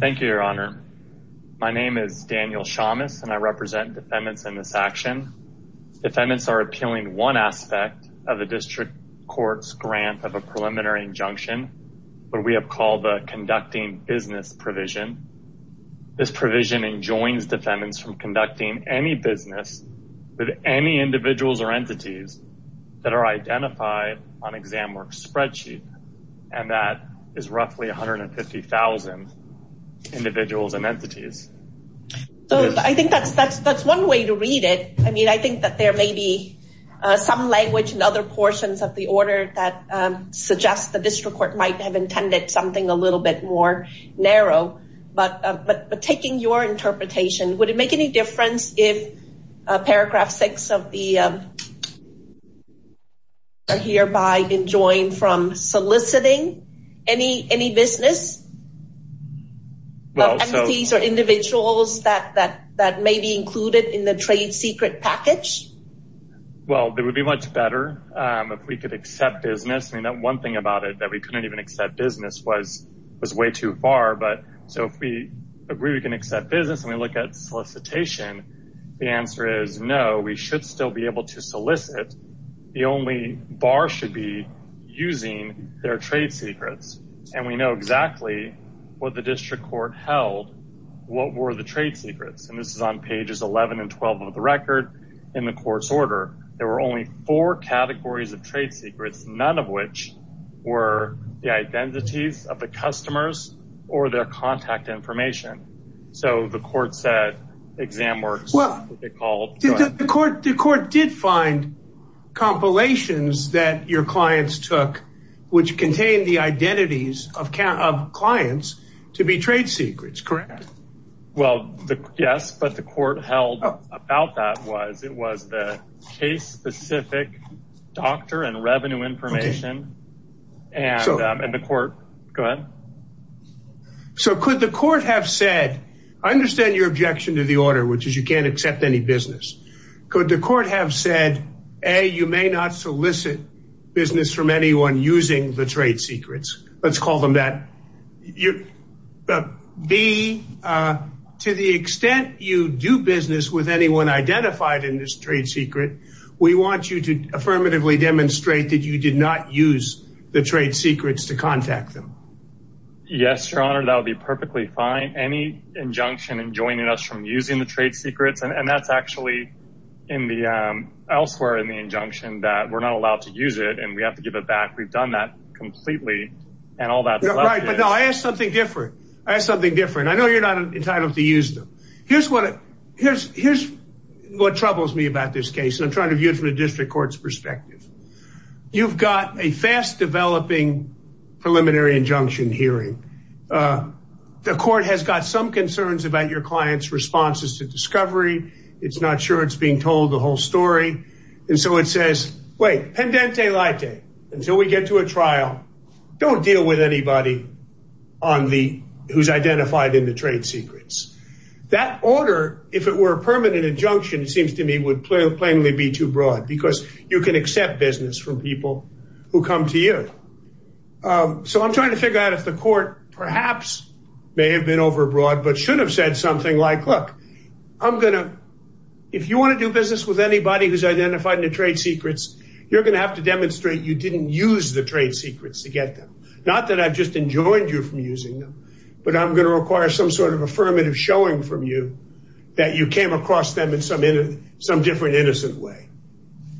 Thank you, Your Honor. My name is Daniel Shamus, and I represent defendants in this action. Defendants are appealing one aspect of a district court's grant of a preliminary injunction, what we have called the Conducting Business Provision. This provision enjoins defendants from conducting any business with any individuals or entities that are identified on ExamWorks' spreadsheet, and that is roughly 150,000 individuals and entities. So I think that's one way to read it. I mean, I think that there may be some language and other portions of the order that suggest the district court might have intended something a little bit more narrow. But taking your interpretation, would it make any difference if Paragraph 6 of the… are hereby enjoined from soliciting any business, entities, or individuals that may be included in the trade secret package? Well, it would be much better if we could accept business. I mean, that one thing about it, that we couldn't even accept business, was way too far. But so if we agree we can accept business and we look at solicitation, the answer is no, we should still be able to solicit. The only bar should be using their trade secrets. And we know exactly what the district court held, what were the trade secrets. And this is on pages 11 and 12 of the record in the court's order. There were only four categories of trade secrets, none of which were the identities of the customers or their contact information. So the court said exam works. Well, the court did find compilations that your clients took, which contained the identities of clients to be trade secrets, correct? Well, yes, but the court held about that was the case-specific doctor and revenue information and the court. Go ahead. So could the court have said, I understand your objection to the order, which is you can't accept any business. Could the court have said, A, you may not solicit business from anyone using the trade secrets. Let's call them that. B, to the extent you do business with anyone identified in this trade secret, we want you to affirmatively demonstrate that you did not use the trade secrets to contact them. Yes, your honor. That would be perfectly fine. Any injunction in joining us from using the trade secrets. And that's actually in the elsewhere in the injunction that we're not allowed to use it and we have to give it back. We've done that completely and all that. Right. But now I ask something different. I ask something different. I know you're not entitled to use them. Here's what, here's, here's what troubles me about this case. And I'm trying to view it from the district court's perspective. You've got a fast developing preliminary injunction hearing. The court has got some concerns about your client's responses to discovery. It's not sure it's being told the whole story. And so it says, wait, pendente lite, until we get to a trial, don't deal with anybody on the, who's identified in the trade secrets. That order, if it were a permanent injunction, it seems to me would play plainly be too broad because you can accept business from people who come to you. So I'm trying to figure out if the court perhaps may have been overbroad, but should have said something like, look, I'm going to, if you want to do business with anybody who's identified in the trade secrets, you're going to have to demonstrate you didn't use the trade secrets to get them. Not that I've just enjoined you from using them, but I'm going to require some sort of affirmative showing from you that you came across them in some, in some different, innocent way.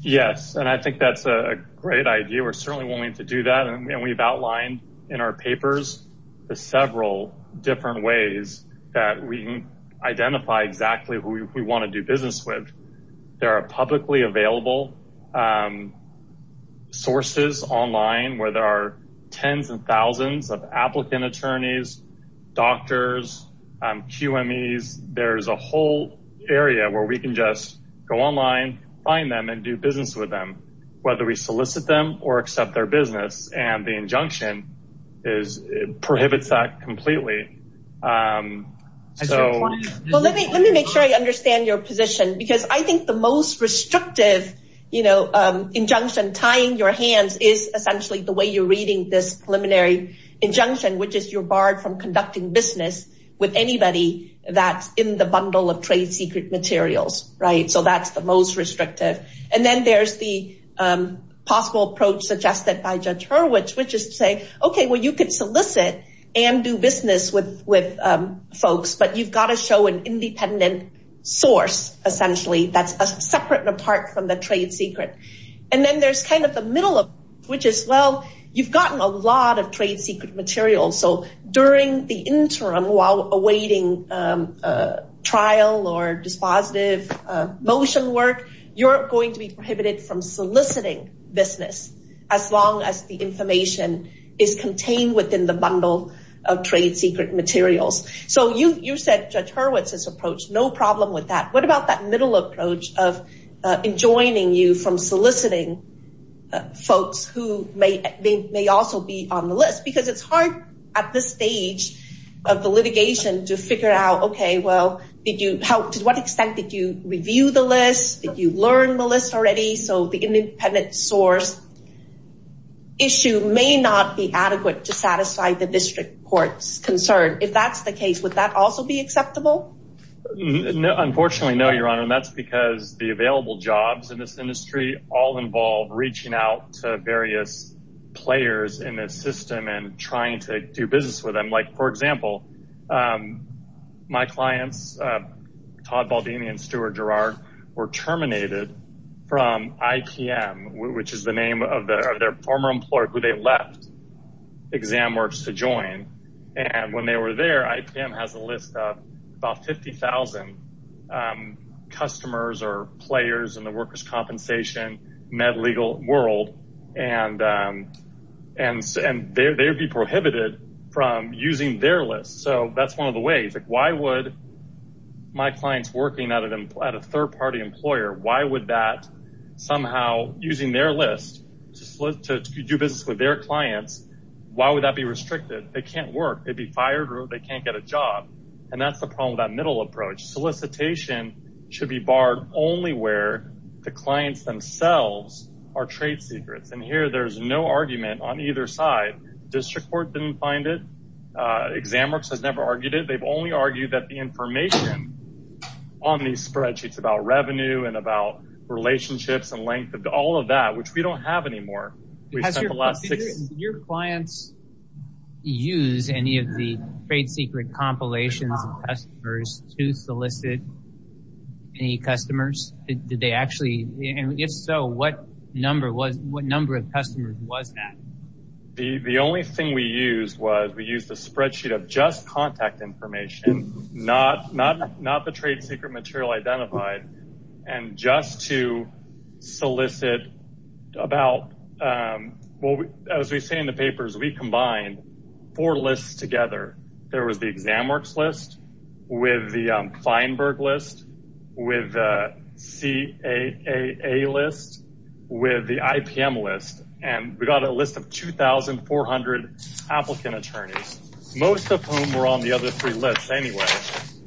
Yes. And I think that's a great idea. We're certainly willing to do that. And we've outlined in our papers, the several different ways that we can identify exactly who we want to do business with. There are publicly available sources online where there are tens and thousands of applicant attorneys, doctors, QMEs. There's a whole area where we can just go online, find them and do business with them, whether we solicit them or accept their business. And the injunction is prohibits that completely. Let me, let me make sure I understand your position because I think the most restrictive, you know, injunction tying your hands is essentially the way you're reading this preliminary injunction, which is you're barred from conducting business with anybody that's in the bundle of trade secret materials. Right. So that's the most restrictive. And then there's the possible approach suggested by Judge Hurwitz, which is to say, okay, well, you could solicit and do business with, with folks, but you've got to show an independent source, essentially, that's separate and apart from the trade secret. And then there's kind of the middle of which is, well, you've gotten a lot of trade secret materials. So the interim while awaiting trial or dispositive motion work, you're going to be prohibited from soliciting business as long as the information is contained within the bundle of trade secret materials. So you, you said Judge Hurwitz's approach, no problem with that. What about that middle approach of enjoining you from soliciting folks who may, they may also be on the list because it's hard at this stage of the litigation to figure out, okay, well, did you help to what extent did you review the list? Did you learn the list already? So the independent source issue may not be adequate to satisfy the district court's concern. If that's the case, would that also be acceptable? No, unfortunately, no, Your Honor. And that's because the available jobs in this industry all involve reaching out to various players in this system and trying to do business with them. Like for example, my clients, Todd Baldini and Stuart Gerard were terminated from IPM, which is the name of their former employer who they left exam works to join. And when they were there, IPM has a list of about 50,000 customers or players in the workers' compensation med legal world. And they would be prohibited from using their list. So that's one of the ways, like why would my clients working at a third-party employer, why would that somehow using their list to do business with their clients, why would that be restricted? They can't work. They'd be fired or they can't get a job. And that's the problem with that middle approach. Solicitation should be barred only where the clients themselves are trade secrets. And here there's no argument on either side. District court didn't find it. Exam works has never argued it. They've only argued that the information on these spreadsheets about revenue and about relationships and length of all of that, which we don't have anymore. Has your clients used any of the trade secret compilations of customers to solicit any customers? Did they actually, and if so, what number of customers was that? The only thing we used was we used a spreadsheet of just contact information, not the trade secret material identified. And just to solicit about, well, as we say in the papers, we combined four lists together. There was the exam works list with the Feinberg list, with the CAA list, with the IPM list. And we got a list of 2,400 applicant attorneys, most of whom were on the other three lists anyway.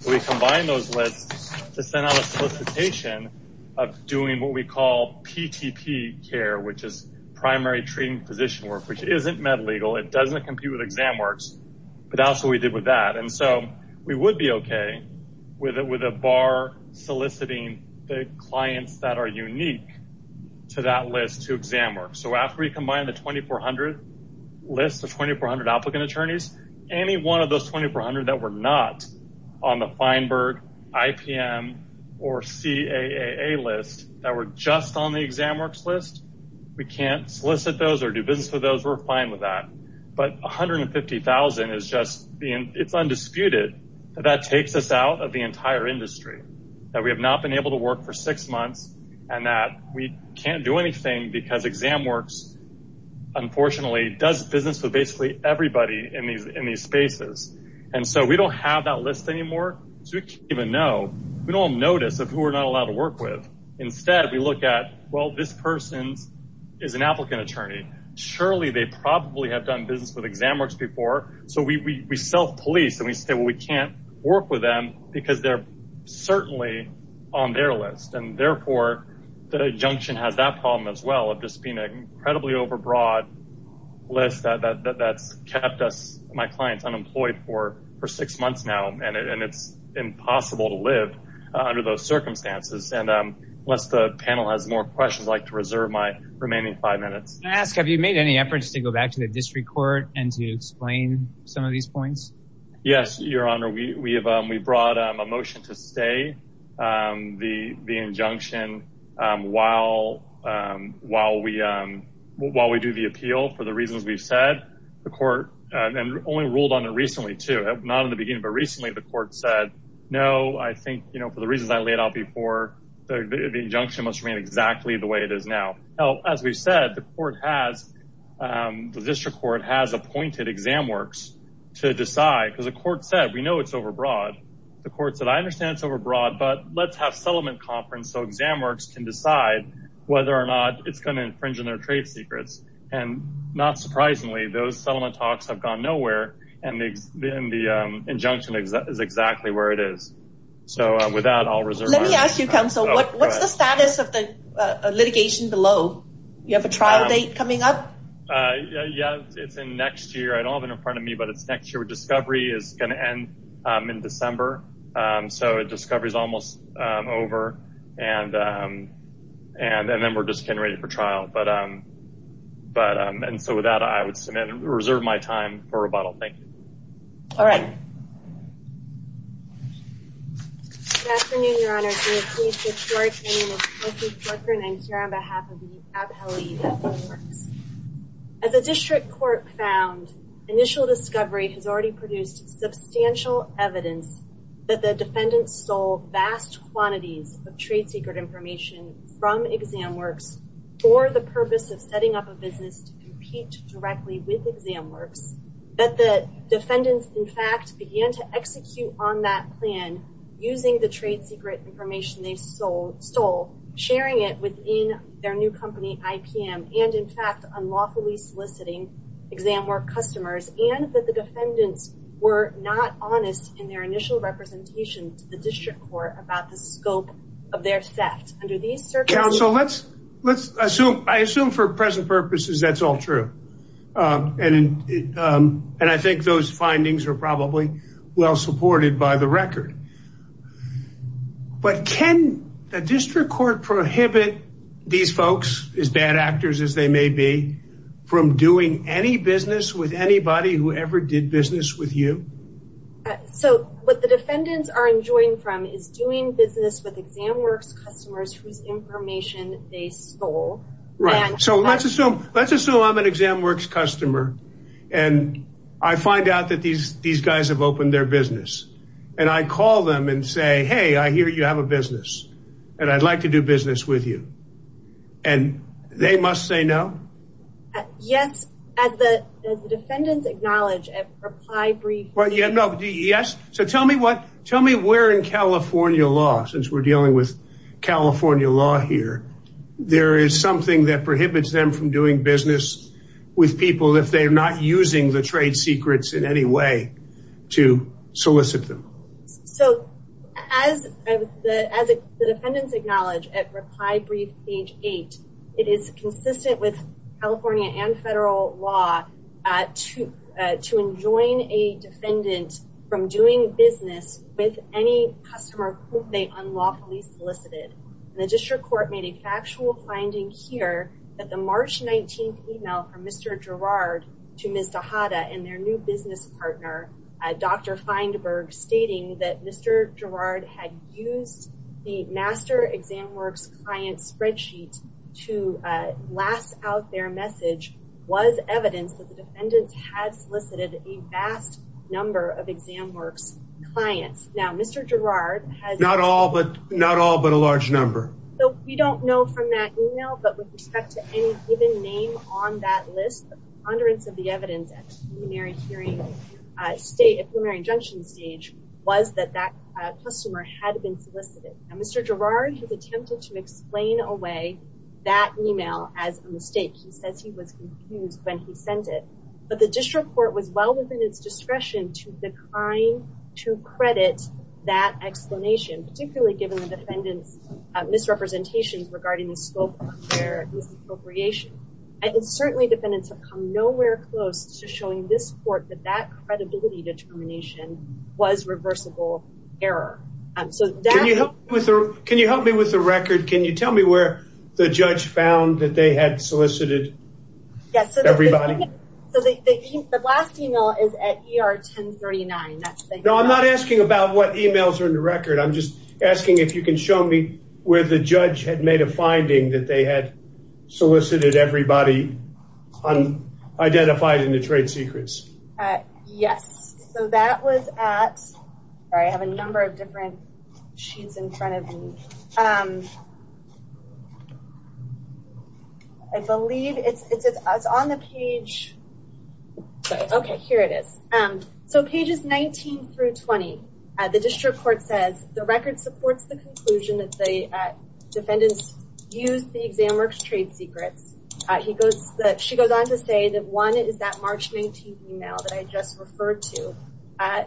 We combined those lists to send out a solicitation of doing what we call PTP care, which is primary treating physician work, which isn't med legal. It doesn't compete with exam works, but that's what we did with that. And so we would be okay with a bar soliciting the clients that are unique to that list to exam work. So after we combined the 2,400 list of 2,400 applicant attorneys, any one of those 2,400 that were not on the Feinberg, IPM, or CAA list that were just on the exam works list, we can't solicit those or do business with those. We're fine with that. But 150,000 is just, it's undisputed that that takes us out of the entire industry, that we have not been able to and that we can't do anything because exam works, unfortunately, does business with basically everybody in these spaces. And so we don't have that list anymore. So we can't even know. We don't notice of who we're not allowed to work with. Instead, we look at, well, this person is an applicant attorney. Surely they probably have done business with exam works before. So we self-police and we say, well, we can't work with them because they're certainly on their list. And therefore, the junction has that problem as well of just being an incredibly overbroad list that's kept us, my clients, unemployed for six months now. And it's impossible to live under those circumstances. And unless the panel has more questions, I'd like to reserve my remaining five minutes. Can I ask, have you made any efforts to go back to the district court and explain some of these points? Yes, your honor. We brought a motion to stay the injunction while we do the appeal for the reasons we've said. The court only ruled on it recently too, not in the beginning, but recently the court said, no, I think for the reasons I laid out before, the injunction must remain exactly the way it is now. As we've said, the court has, the district court has appointed exam works to decide because the court said, we know it's overbroad. The court said, I understand it's overbroad, but let's have settlement conference. So exam works can decide whether or not it's going to infringe on their trade secrets. And not surprisingly, those settlement talks have gone nowhere. And then the injunction is exactly where it is. So with that, I'll reserve. Let me ask you counsel, what's the status of the litigation below? You have a trial date coming up? Yeah, it's in next year. I don't have it in front of me, but it's next year with discovery is going to end in December. So discovery is almost over. And, and then we're just getting ready for trial. But, but, and so with that, I would submit and reserve my time for rebuttal. Thank you. All right. Good afternoon, your honor. I'm here on behalf of the Abheli. As a district court found initial discovery has already produced substantial evidence that the defendant stole vast quantities of trade secret information from exam works or the purpose of setting up a business to compete directly with exam works that the defendants in fact began to execute on that plan using the trade secret information they stole, sharing it within their new company, IPM. And in fact, unlawfully soliciting exam work customers and that the defendants were not honest in their initial representation to the district court about the scope of their theft under these circumstances. So let's, let's assume, I assume for present purposes, that's all true. And, and I think those findings are probably well supported by the record, but can the district court prohibit these folks as bad actors as they may be from doing any business with anybody who ever did business with you? So what the defendants are enjoying from is doing business with exam works, customers whose information they stole. Right. So let's assume, let's assume I'm an exam works customer. And I find out that these, these guys have opened their business. And I call them and say, Hey, I hear you have a business. And I'd like to do business with you. And they must say no. Yes. As the defendants acknowledge, reply, brief. Yes. So tell me what, tell me where in California law, since we're dealing with California law here, there is something that prohibits them from doing business with people if they're not using the trade secrets in any way to solicit them. So as the, as the defendants acknowledge at reply, brief age eight, it is consistent with California and federal law to, to enjoin a defendant from doing business with any customer they unlawfully solicited. And the district court made a factual finding here that the March 19th email from Mr. Gerard to Ms. Dahada and their new business partner, Dr. Feinberg stating that Mr. Gerard had used the master exam works client spreadsheet to last out their message was evidence that the defendants had solicited a vast number of exam now, Mr. Gerard has not all, but not all, but a large number. So we don't know from that email, but with respect to any given name on that list, the ponderance of the evidence at primary hearing state primary injunction stage was that that customer had been solicited. And Mr. Gerard has attempted to explain away that email as a mistake. He says he was confused when he sent it, but the district court was well within its discretion to decline to credit that explanation, particularly given the defendant's misrepresentations regarding the scope of their misappropriation. And it's certainly defendants have come nowhere close to showing this court that that credibility determination was reversible error. So can you help me with a, can you help me with a record? Can you tell me where the judge found that they had solicited everybody? So the last email is at ER 1039. No, I'm not asking about what emails are in the record. I'm just asking if you can show me where the judge had made a finding that they had solicited everybody on identified in the trade secrets. Yes. So that was at, or I have a number of different sheets in front of me. I believe it's, it's, it's on the page. Okay. Here it is. So pages 19 through 20 at the district court says the record supports the conclusion that the defendants used the exam works trade secrets. He goes, she goes on to say that one is that March 19th email that I just referred to.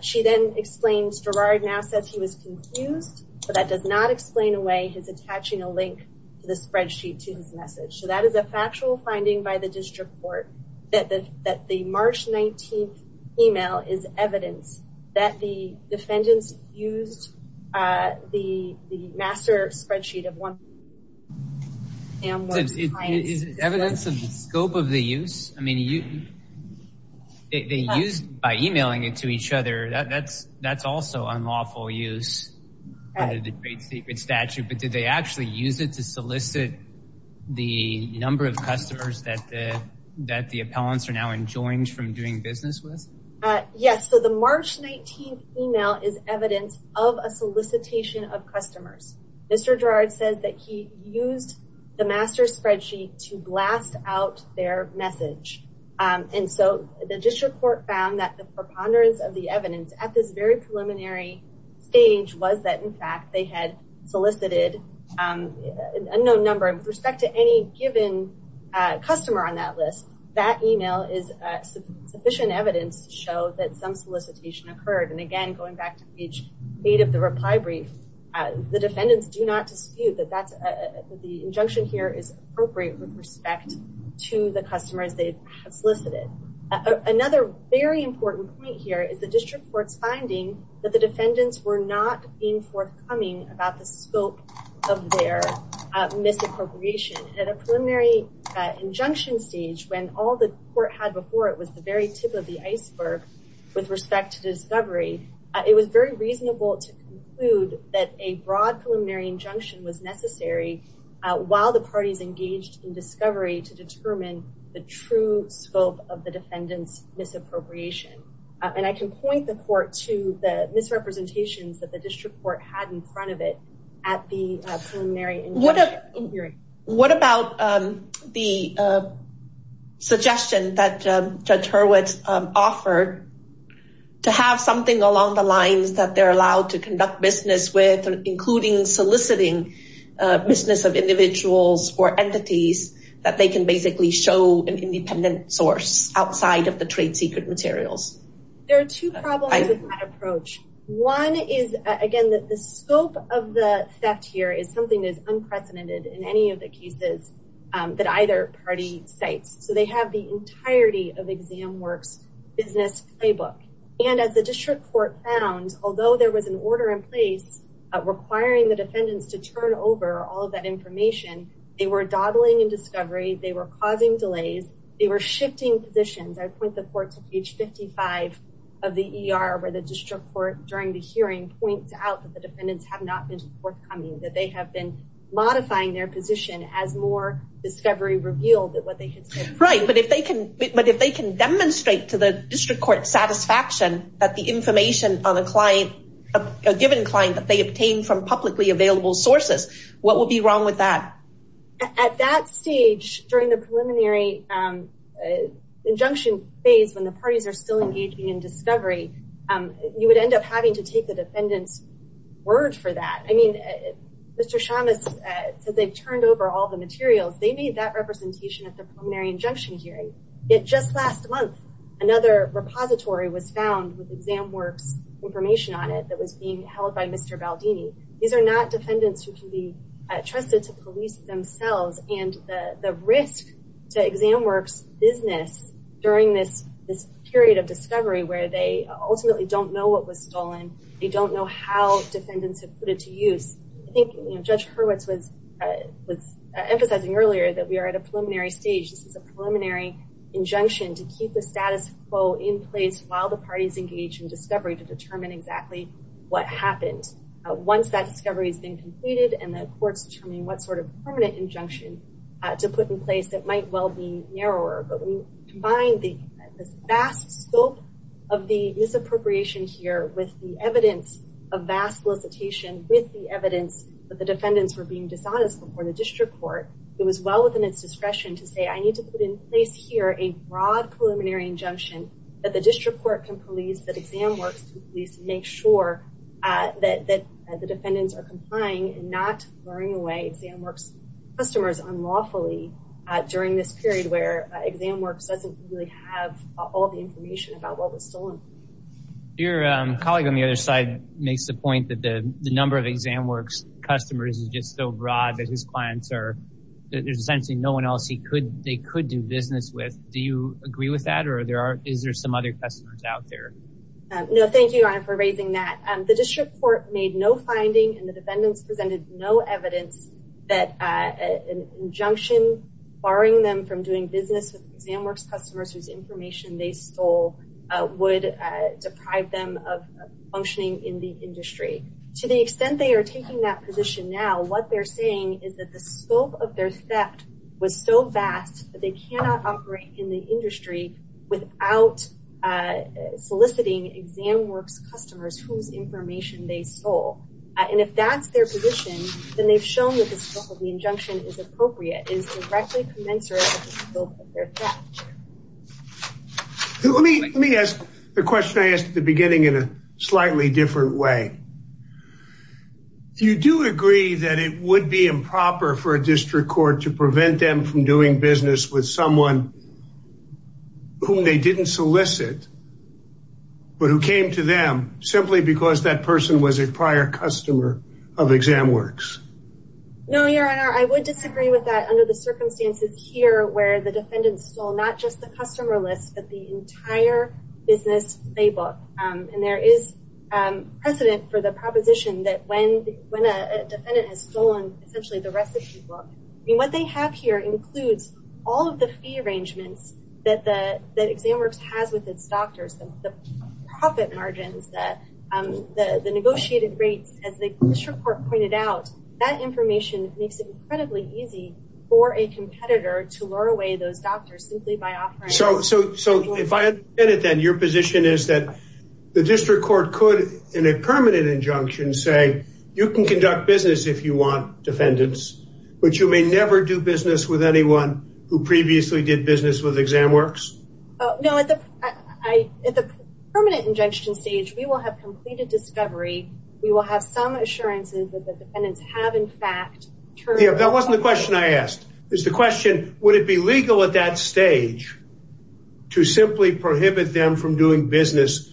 She then explains Gerard now says he was confused, but that does not explain away his attaching a link to the spreadsheet, to his message. So that is a factual finding by the district court that the, that the March 19th email is evidence that the defendants used the, the master spreadsheet of one. Is it evidence of the scope of the use? I mean, you, they used by emailing it to each other. That's, that's also unlawful use under the trade secret statute, but did they actually use it to solicit the number of customers that the, that the appellants are now enjoying from doing business with? Yes. So the March 19th email is evidence of a solicitation of customers. Mr. Gerard says that he used the master spreadsheet to blast out their message. And so the district court found that the preponderance of the evidence at this very preliminary stage was that in fact, they had solicited a no number of respect to any given customer on that list. That email is sufficient evidence to show that some solicitation occurred. And again, going back to page eight of the reply brief, the defendants do not dispute that that's the injunction here is appropriate with respect to the customers they have solicited. Another very important point here is the district court's finding that the defendants were not being forthcoming about the scope of their misappropriation at a preliminary injunction stage when all the court had before it was the very tip of the iceberg with respect to discovery. It was very reasonable to conclude that a broad preliminary injunction was necessary while the parties engaged in discovery to determine the true scope of the defendant's misappropriation. And I can point the court to the misrepresentations that the district court had in front of it at the preliminary injunction. What about the suggestion that Judge Hurwitz offered to have something along the lines that they're allowed to conduct business with including soliciting business of individuals or entities that they can basically show an independent source outside of the trade secret materials? There are two problems with that approach. One is again that the scope of the theft here is something that is unprecedented in any of the cases that either party cites. So they have the entirety of exam works business playbook. And as the district court found, although there was an order in place requiring the defendants to turn over all of that information, they were dawdling in discovery, they were causing delays, they were shifting positions. I point the court to page 55 of the ER where the district court during the hearing points out that the defendants have not been forthcoming, that they have been as more discovery revealed that what they had said. Right, but if they can demonstrate to the district court satisfaction that the information on a client, a given client that they obtained from publicly available sources, what would be wrong with that? At that stage during the preliminary injunction phase when the parties are still engaging in discovery, you would end up having to take the defendant's word for that. I mean, Mr. Shamas says they've turned over all the materials. They made that representation at the preliminary injunction hearing. It just last month, another repository was found with exam works information on it that was being held by Mr. Baldini. These are not defendants who can be trusted to police themselves and the risk to exam works business during this period of discovery where they ultimately don't know what was stolen. They don't know how defendants have put it to use. I think Judge Hurwitz was emphasizing earlier that we are at a preliminary stage. This is a preliminary injunction to keep the status quo in place while the parties engage in discovery to determine exactly what happened. Once that discovery has been completed and the court's determining what sort of permanent injunction to put in place that might well be narrower, but we combine the vast scope of the misappropriation here with the evidence of vast solicitation with the evidence that the defendants were being dishonest before the district court, it was well within its discretion to say I need to put in place here a broad preliminary injunction that the district court can police, that exam works can police to make sure that the defendants are complying and not throwing away exam works customers unlawfully during this period where exam works doesn't really have all the information about what was stolen. Your colleague on the other side makes the point that the number of exam works customers is just so broad that his clients are, there's essentially no one else they could do business with. Do you agree with that or is there some other customers out there? No, thank you your honor for raising that. The district court made no finding and the defendants presented no evidence that an injunction barring them from doing business with exam works customers whose information they stole would deprive them of functioning in the industry. To the extent they are taking that position now, what they're saying is that the scope of their theft was so vast that they cannot operate in the industry without soliciting exam works customers whose information they stole. And if that's their position, then they've shown that the scope of the Let me let me ask the question I asked at the beginning in a slightly different way. Do you do agree that it would be improper for a district court to prevent them from doing business with someone whom they didn't solicit but who came to them simply because that person was a prior customer of exam works? No your honor, I would disagree with that under the customer list that the entire business playbook. And there is precedent for the proposition that when a defendant has stolen essentially the recipe book, I mean what they have here includes all of the fee arrangements that exam works has with its doctors. The profit margins that the negotiated rates as the district court pointed out, that information makes it incredibly easy for a competitor to lure away those doctors simply by offering. So if I understand it then your position is that the district court could in a permanent injunction say you can conduct business if you want defendants, but you may never do business with anyone who previously did business with exam works? No at the permanent injunction stage we will have completed discovery. We will have some assurances that the defendants have in fact. That wasn't the question I asked, is the question would it be legal at that stage to simply prohibit them from doing business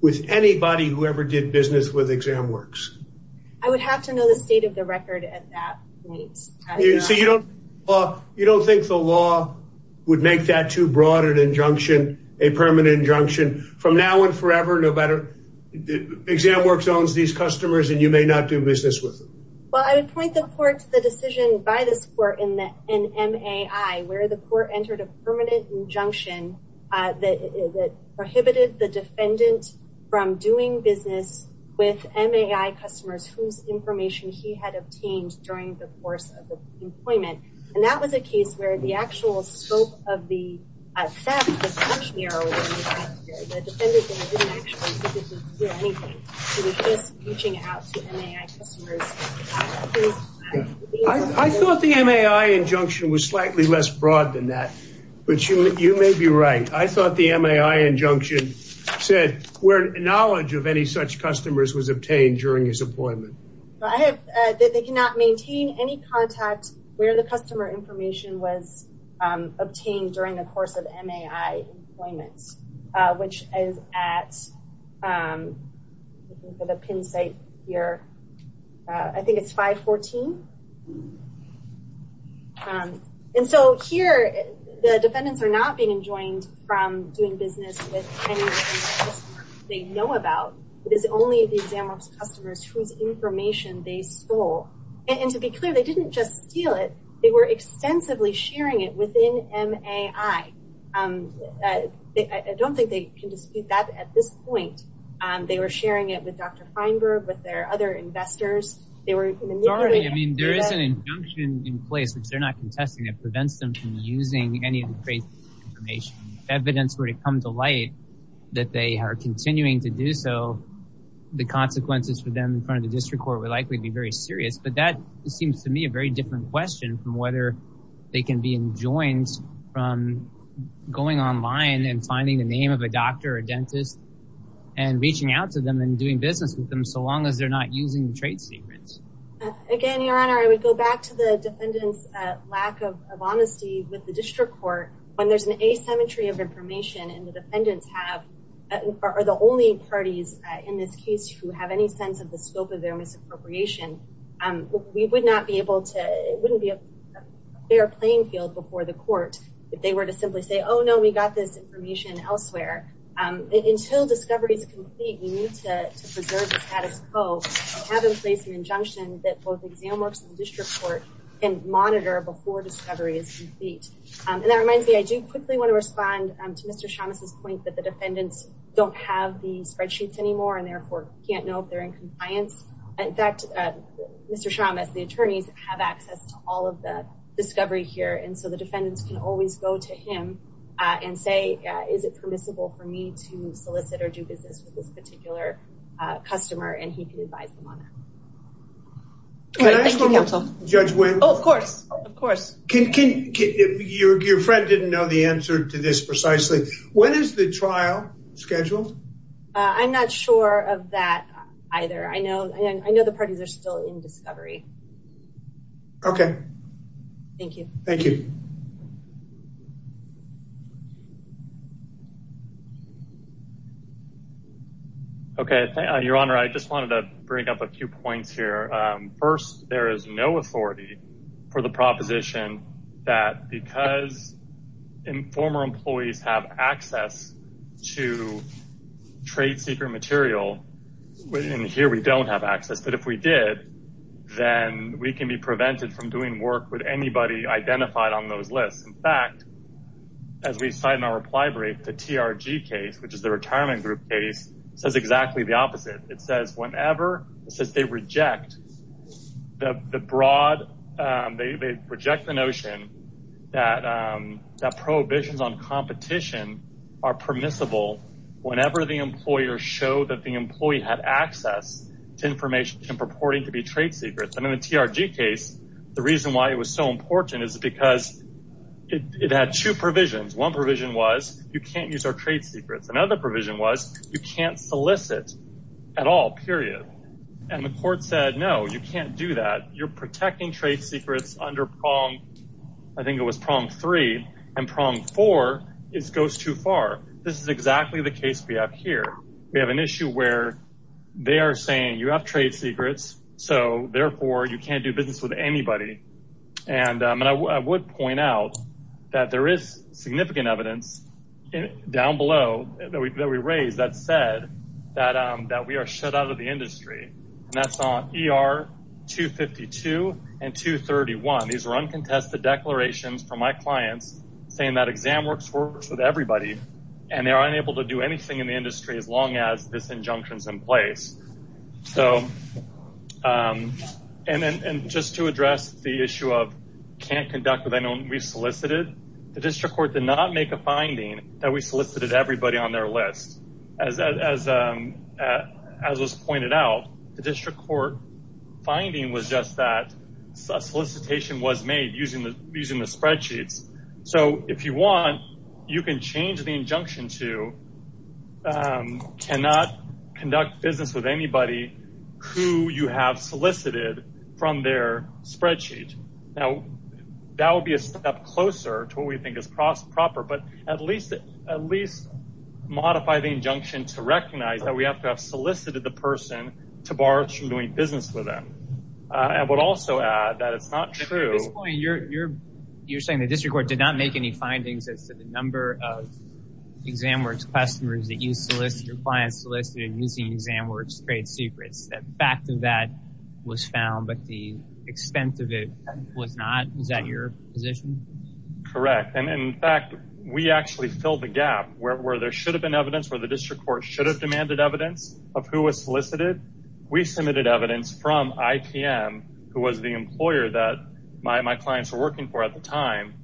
with anybody who ever did business with exam works? I would have to know the state of the record at that point. So you don't, you don't think the law would make that too broad an injunction, a permanent injunction from now on forever no better exam works owns these customers and you may not do business with them? Well I would point the court to the decision by this court in that in MAI where the court entered a permanent injunction that prohibited the defendant from doing business with MAI customers whose information he had obtained during the course of the employment and that was a case where the actual scope of the I thought the MAI injunction was slightly less broad than that, but you you may be right. I thought the MAI injunction said where knowledge of any such customers was obtained during his I have that they cannot maintain any contact where the customer information was obtained during the course of MAI employment which is at the pin site here. I think it's 514. And so here the defendants are not being enjoined from doing business with any customers whose information they stole. And to be clear they didn't just steal it, they were extensively sharing it within MAI. I don't think they can dispute that at this point. They were sharing it with Dr. Feinberg, with their other investors. They were, I mean there is an injunction in place which they're not contesting that prevents them from using any of the information. If evidence were to come to light that they are continuing to do so, the consequences for them in front of the district court would likely be very serious. But that seems to me a very different question from whether they can be enjoined from going online and finding the name of a doctor or dentist and reaching out to them and doing business with them so long as they're not using the trade secrets. Again your honor, I would go back to the defendant's lack of honesty with the district court when there's an asymmetry of information and the defendants have, are the only parties in this case who have any sense of the scope of their misappropriation. We would not be able to, it wouldn't be a fair playing field before the court if they were to simply say oh no we got this information elsewhere. Until discovery is complete we need to preserve the status quo to have in place an injunction that both exam works and district court can monitor before discovery is complete. And that reminds me, I do quickly want to respond to Mr. Chavez's point that the defendants don't have the spreadsheets anymore and therefore can't know if they're in compliance. In fact Mr. Chavez, the attorneys have access to all of the discovery here and so the defendants can always go to him and say is it permissible for me to solicit or do business with this particular customer and he can advise them on that. Can I ask one more? Judge Wynn. Oh of course, of course. Your friend didn't know the answer to this precisely. When is the trial scheduled? I'm not sure of that either. I know and I know the parties are still in discovery. Okay. Thank you. Thank you. Okay. Your honor, I just wanted to bring up a few points here. First there is no authority for the proposition that because former employees have access to trade secret material, and here we don't have access, but if we did then we can be prevented from doing work with those lists. In fact, as we cite in our reply brief, the TRG case, which is the retirement group case, says exactly the opposite. It says whenever, it says they reject the broad, they reject the notion that prohibitions on competition are permissible whenever the employer showed that the employee had access to information purporting to be trade secrets. In the TRG case, the reason why it was so important is because it had two provisions. One provision was you can't use our trade secrets. Another provision was you can't solicit at all, period, and the court said no, you can't do that. You're protecting trade secrets under I think it was prong three and prong four goes too far. This is exactly the case we have here. We have an issue where they are saying you have trade secrets, so therefore you can't do business with anybody. I would point out that there is significant evidence down below that we raised that said that we are shut out of the industry. That's on ER 252 and 231. These are uncontested declarations from my clients saying that exam works with everybody and they're unable to do the industry as long as this injunction is in place. Just to address the issue of can't conduct with anyone we solicited, the district court did not make a finding that we solicited everybody on their list. As was pointed out, the district court finding was just that solicitation was made using the spreadsheets. If you want, you can change the injunction to cannot conduct business with anybody who you have solicited from their spreadsheet. That would be a step closer to what we think is proper, but at least modify the injunction to recognize that we have to have solicited the person to bar us from doing business with them. I would also add that it's not true. At this point, you're saying the district court did not make any findings as to the number of exam works customers that your clients solicited using exam works trade secrets. The fact of that was found, but the extent of it was not. Is that your position? Correct. In fact, we actually filled the gap where there should have been evidence, where the district court should have demanded evidence of who was solicited. We submitted evidence from IPM, who was the employer that my clients were working for at the time.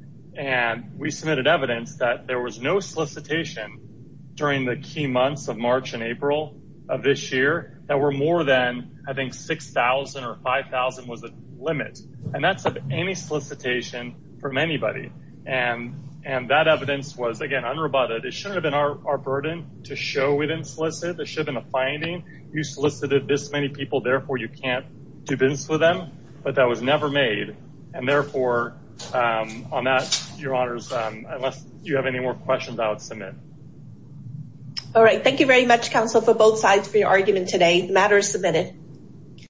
We submitted evidence that there was no solicitation during the key months of March and April of this year that were more than, I think, 6,000 or 5,000 was the limit. That's of any solicitation from anybody. That evidence was, again, unrebutted. It shouldn't have been our burden to show we can't do business with them, but that was never made. Therefore, on that, your honors, unless you have any more questions, I would submit. All right. Thank you very much, counsel, for both sides for your argument today. The matter is submitted.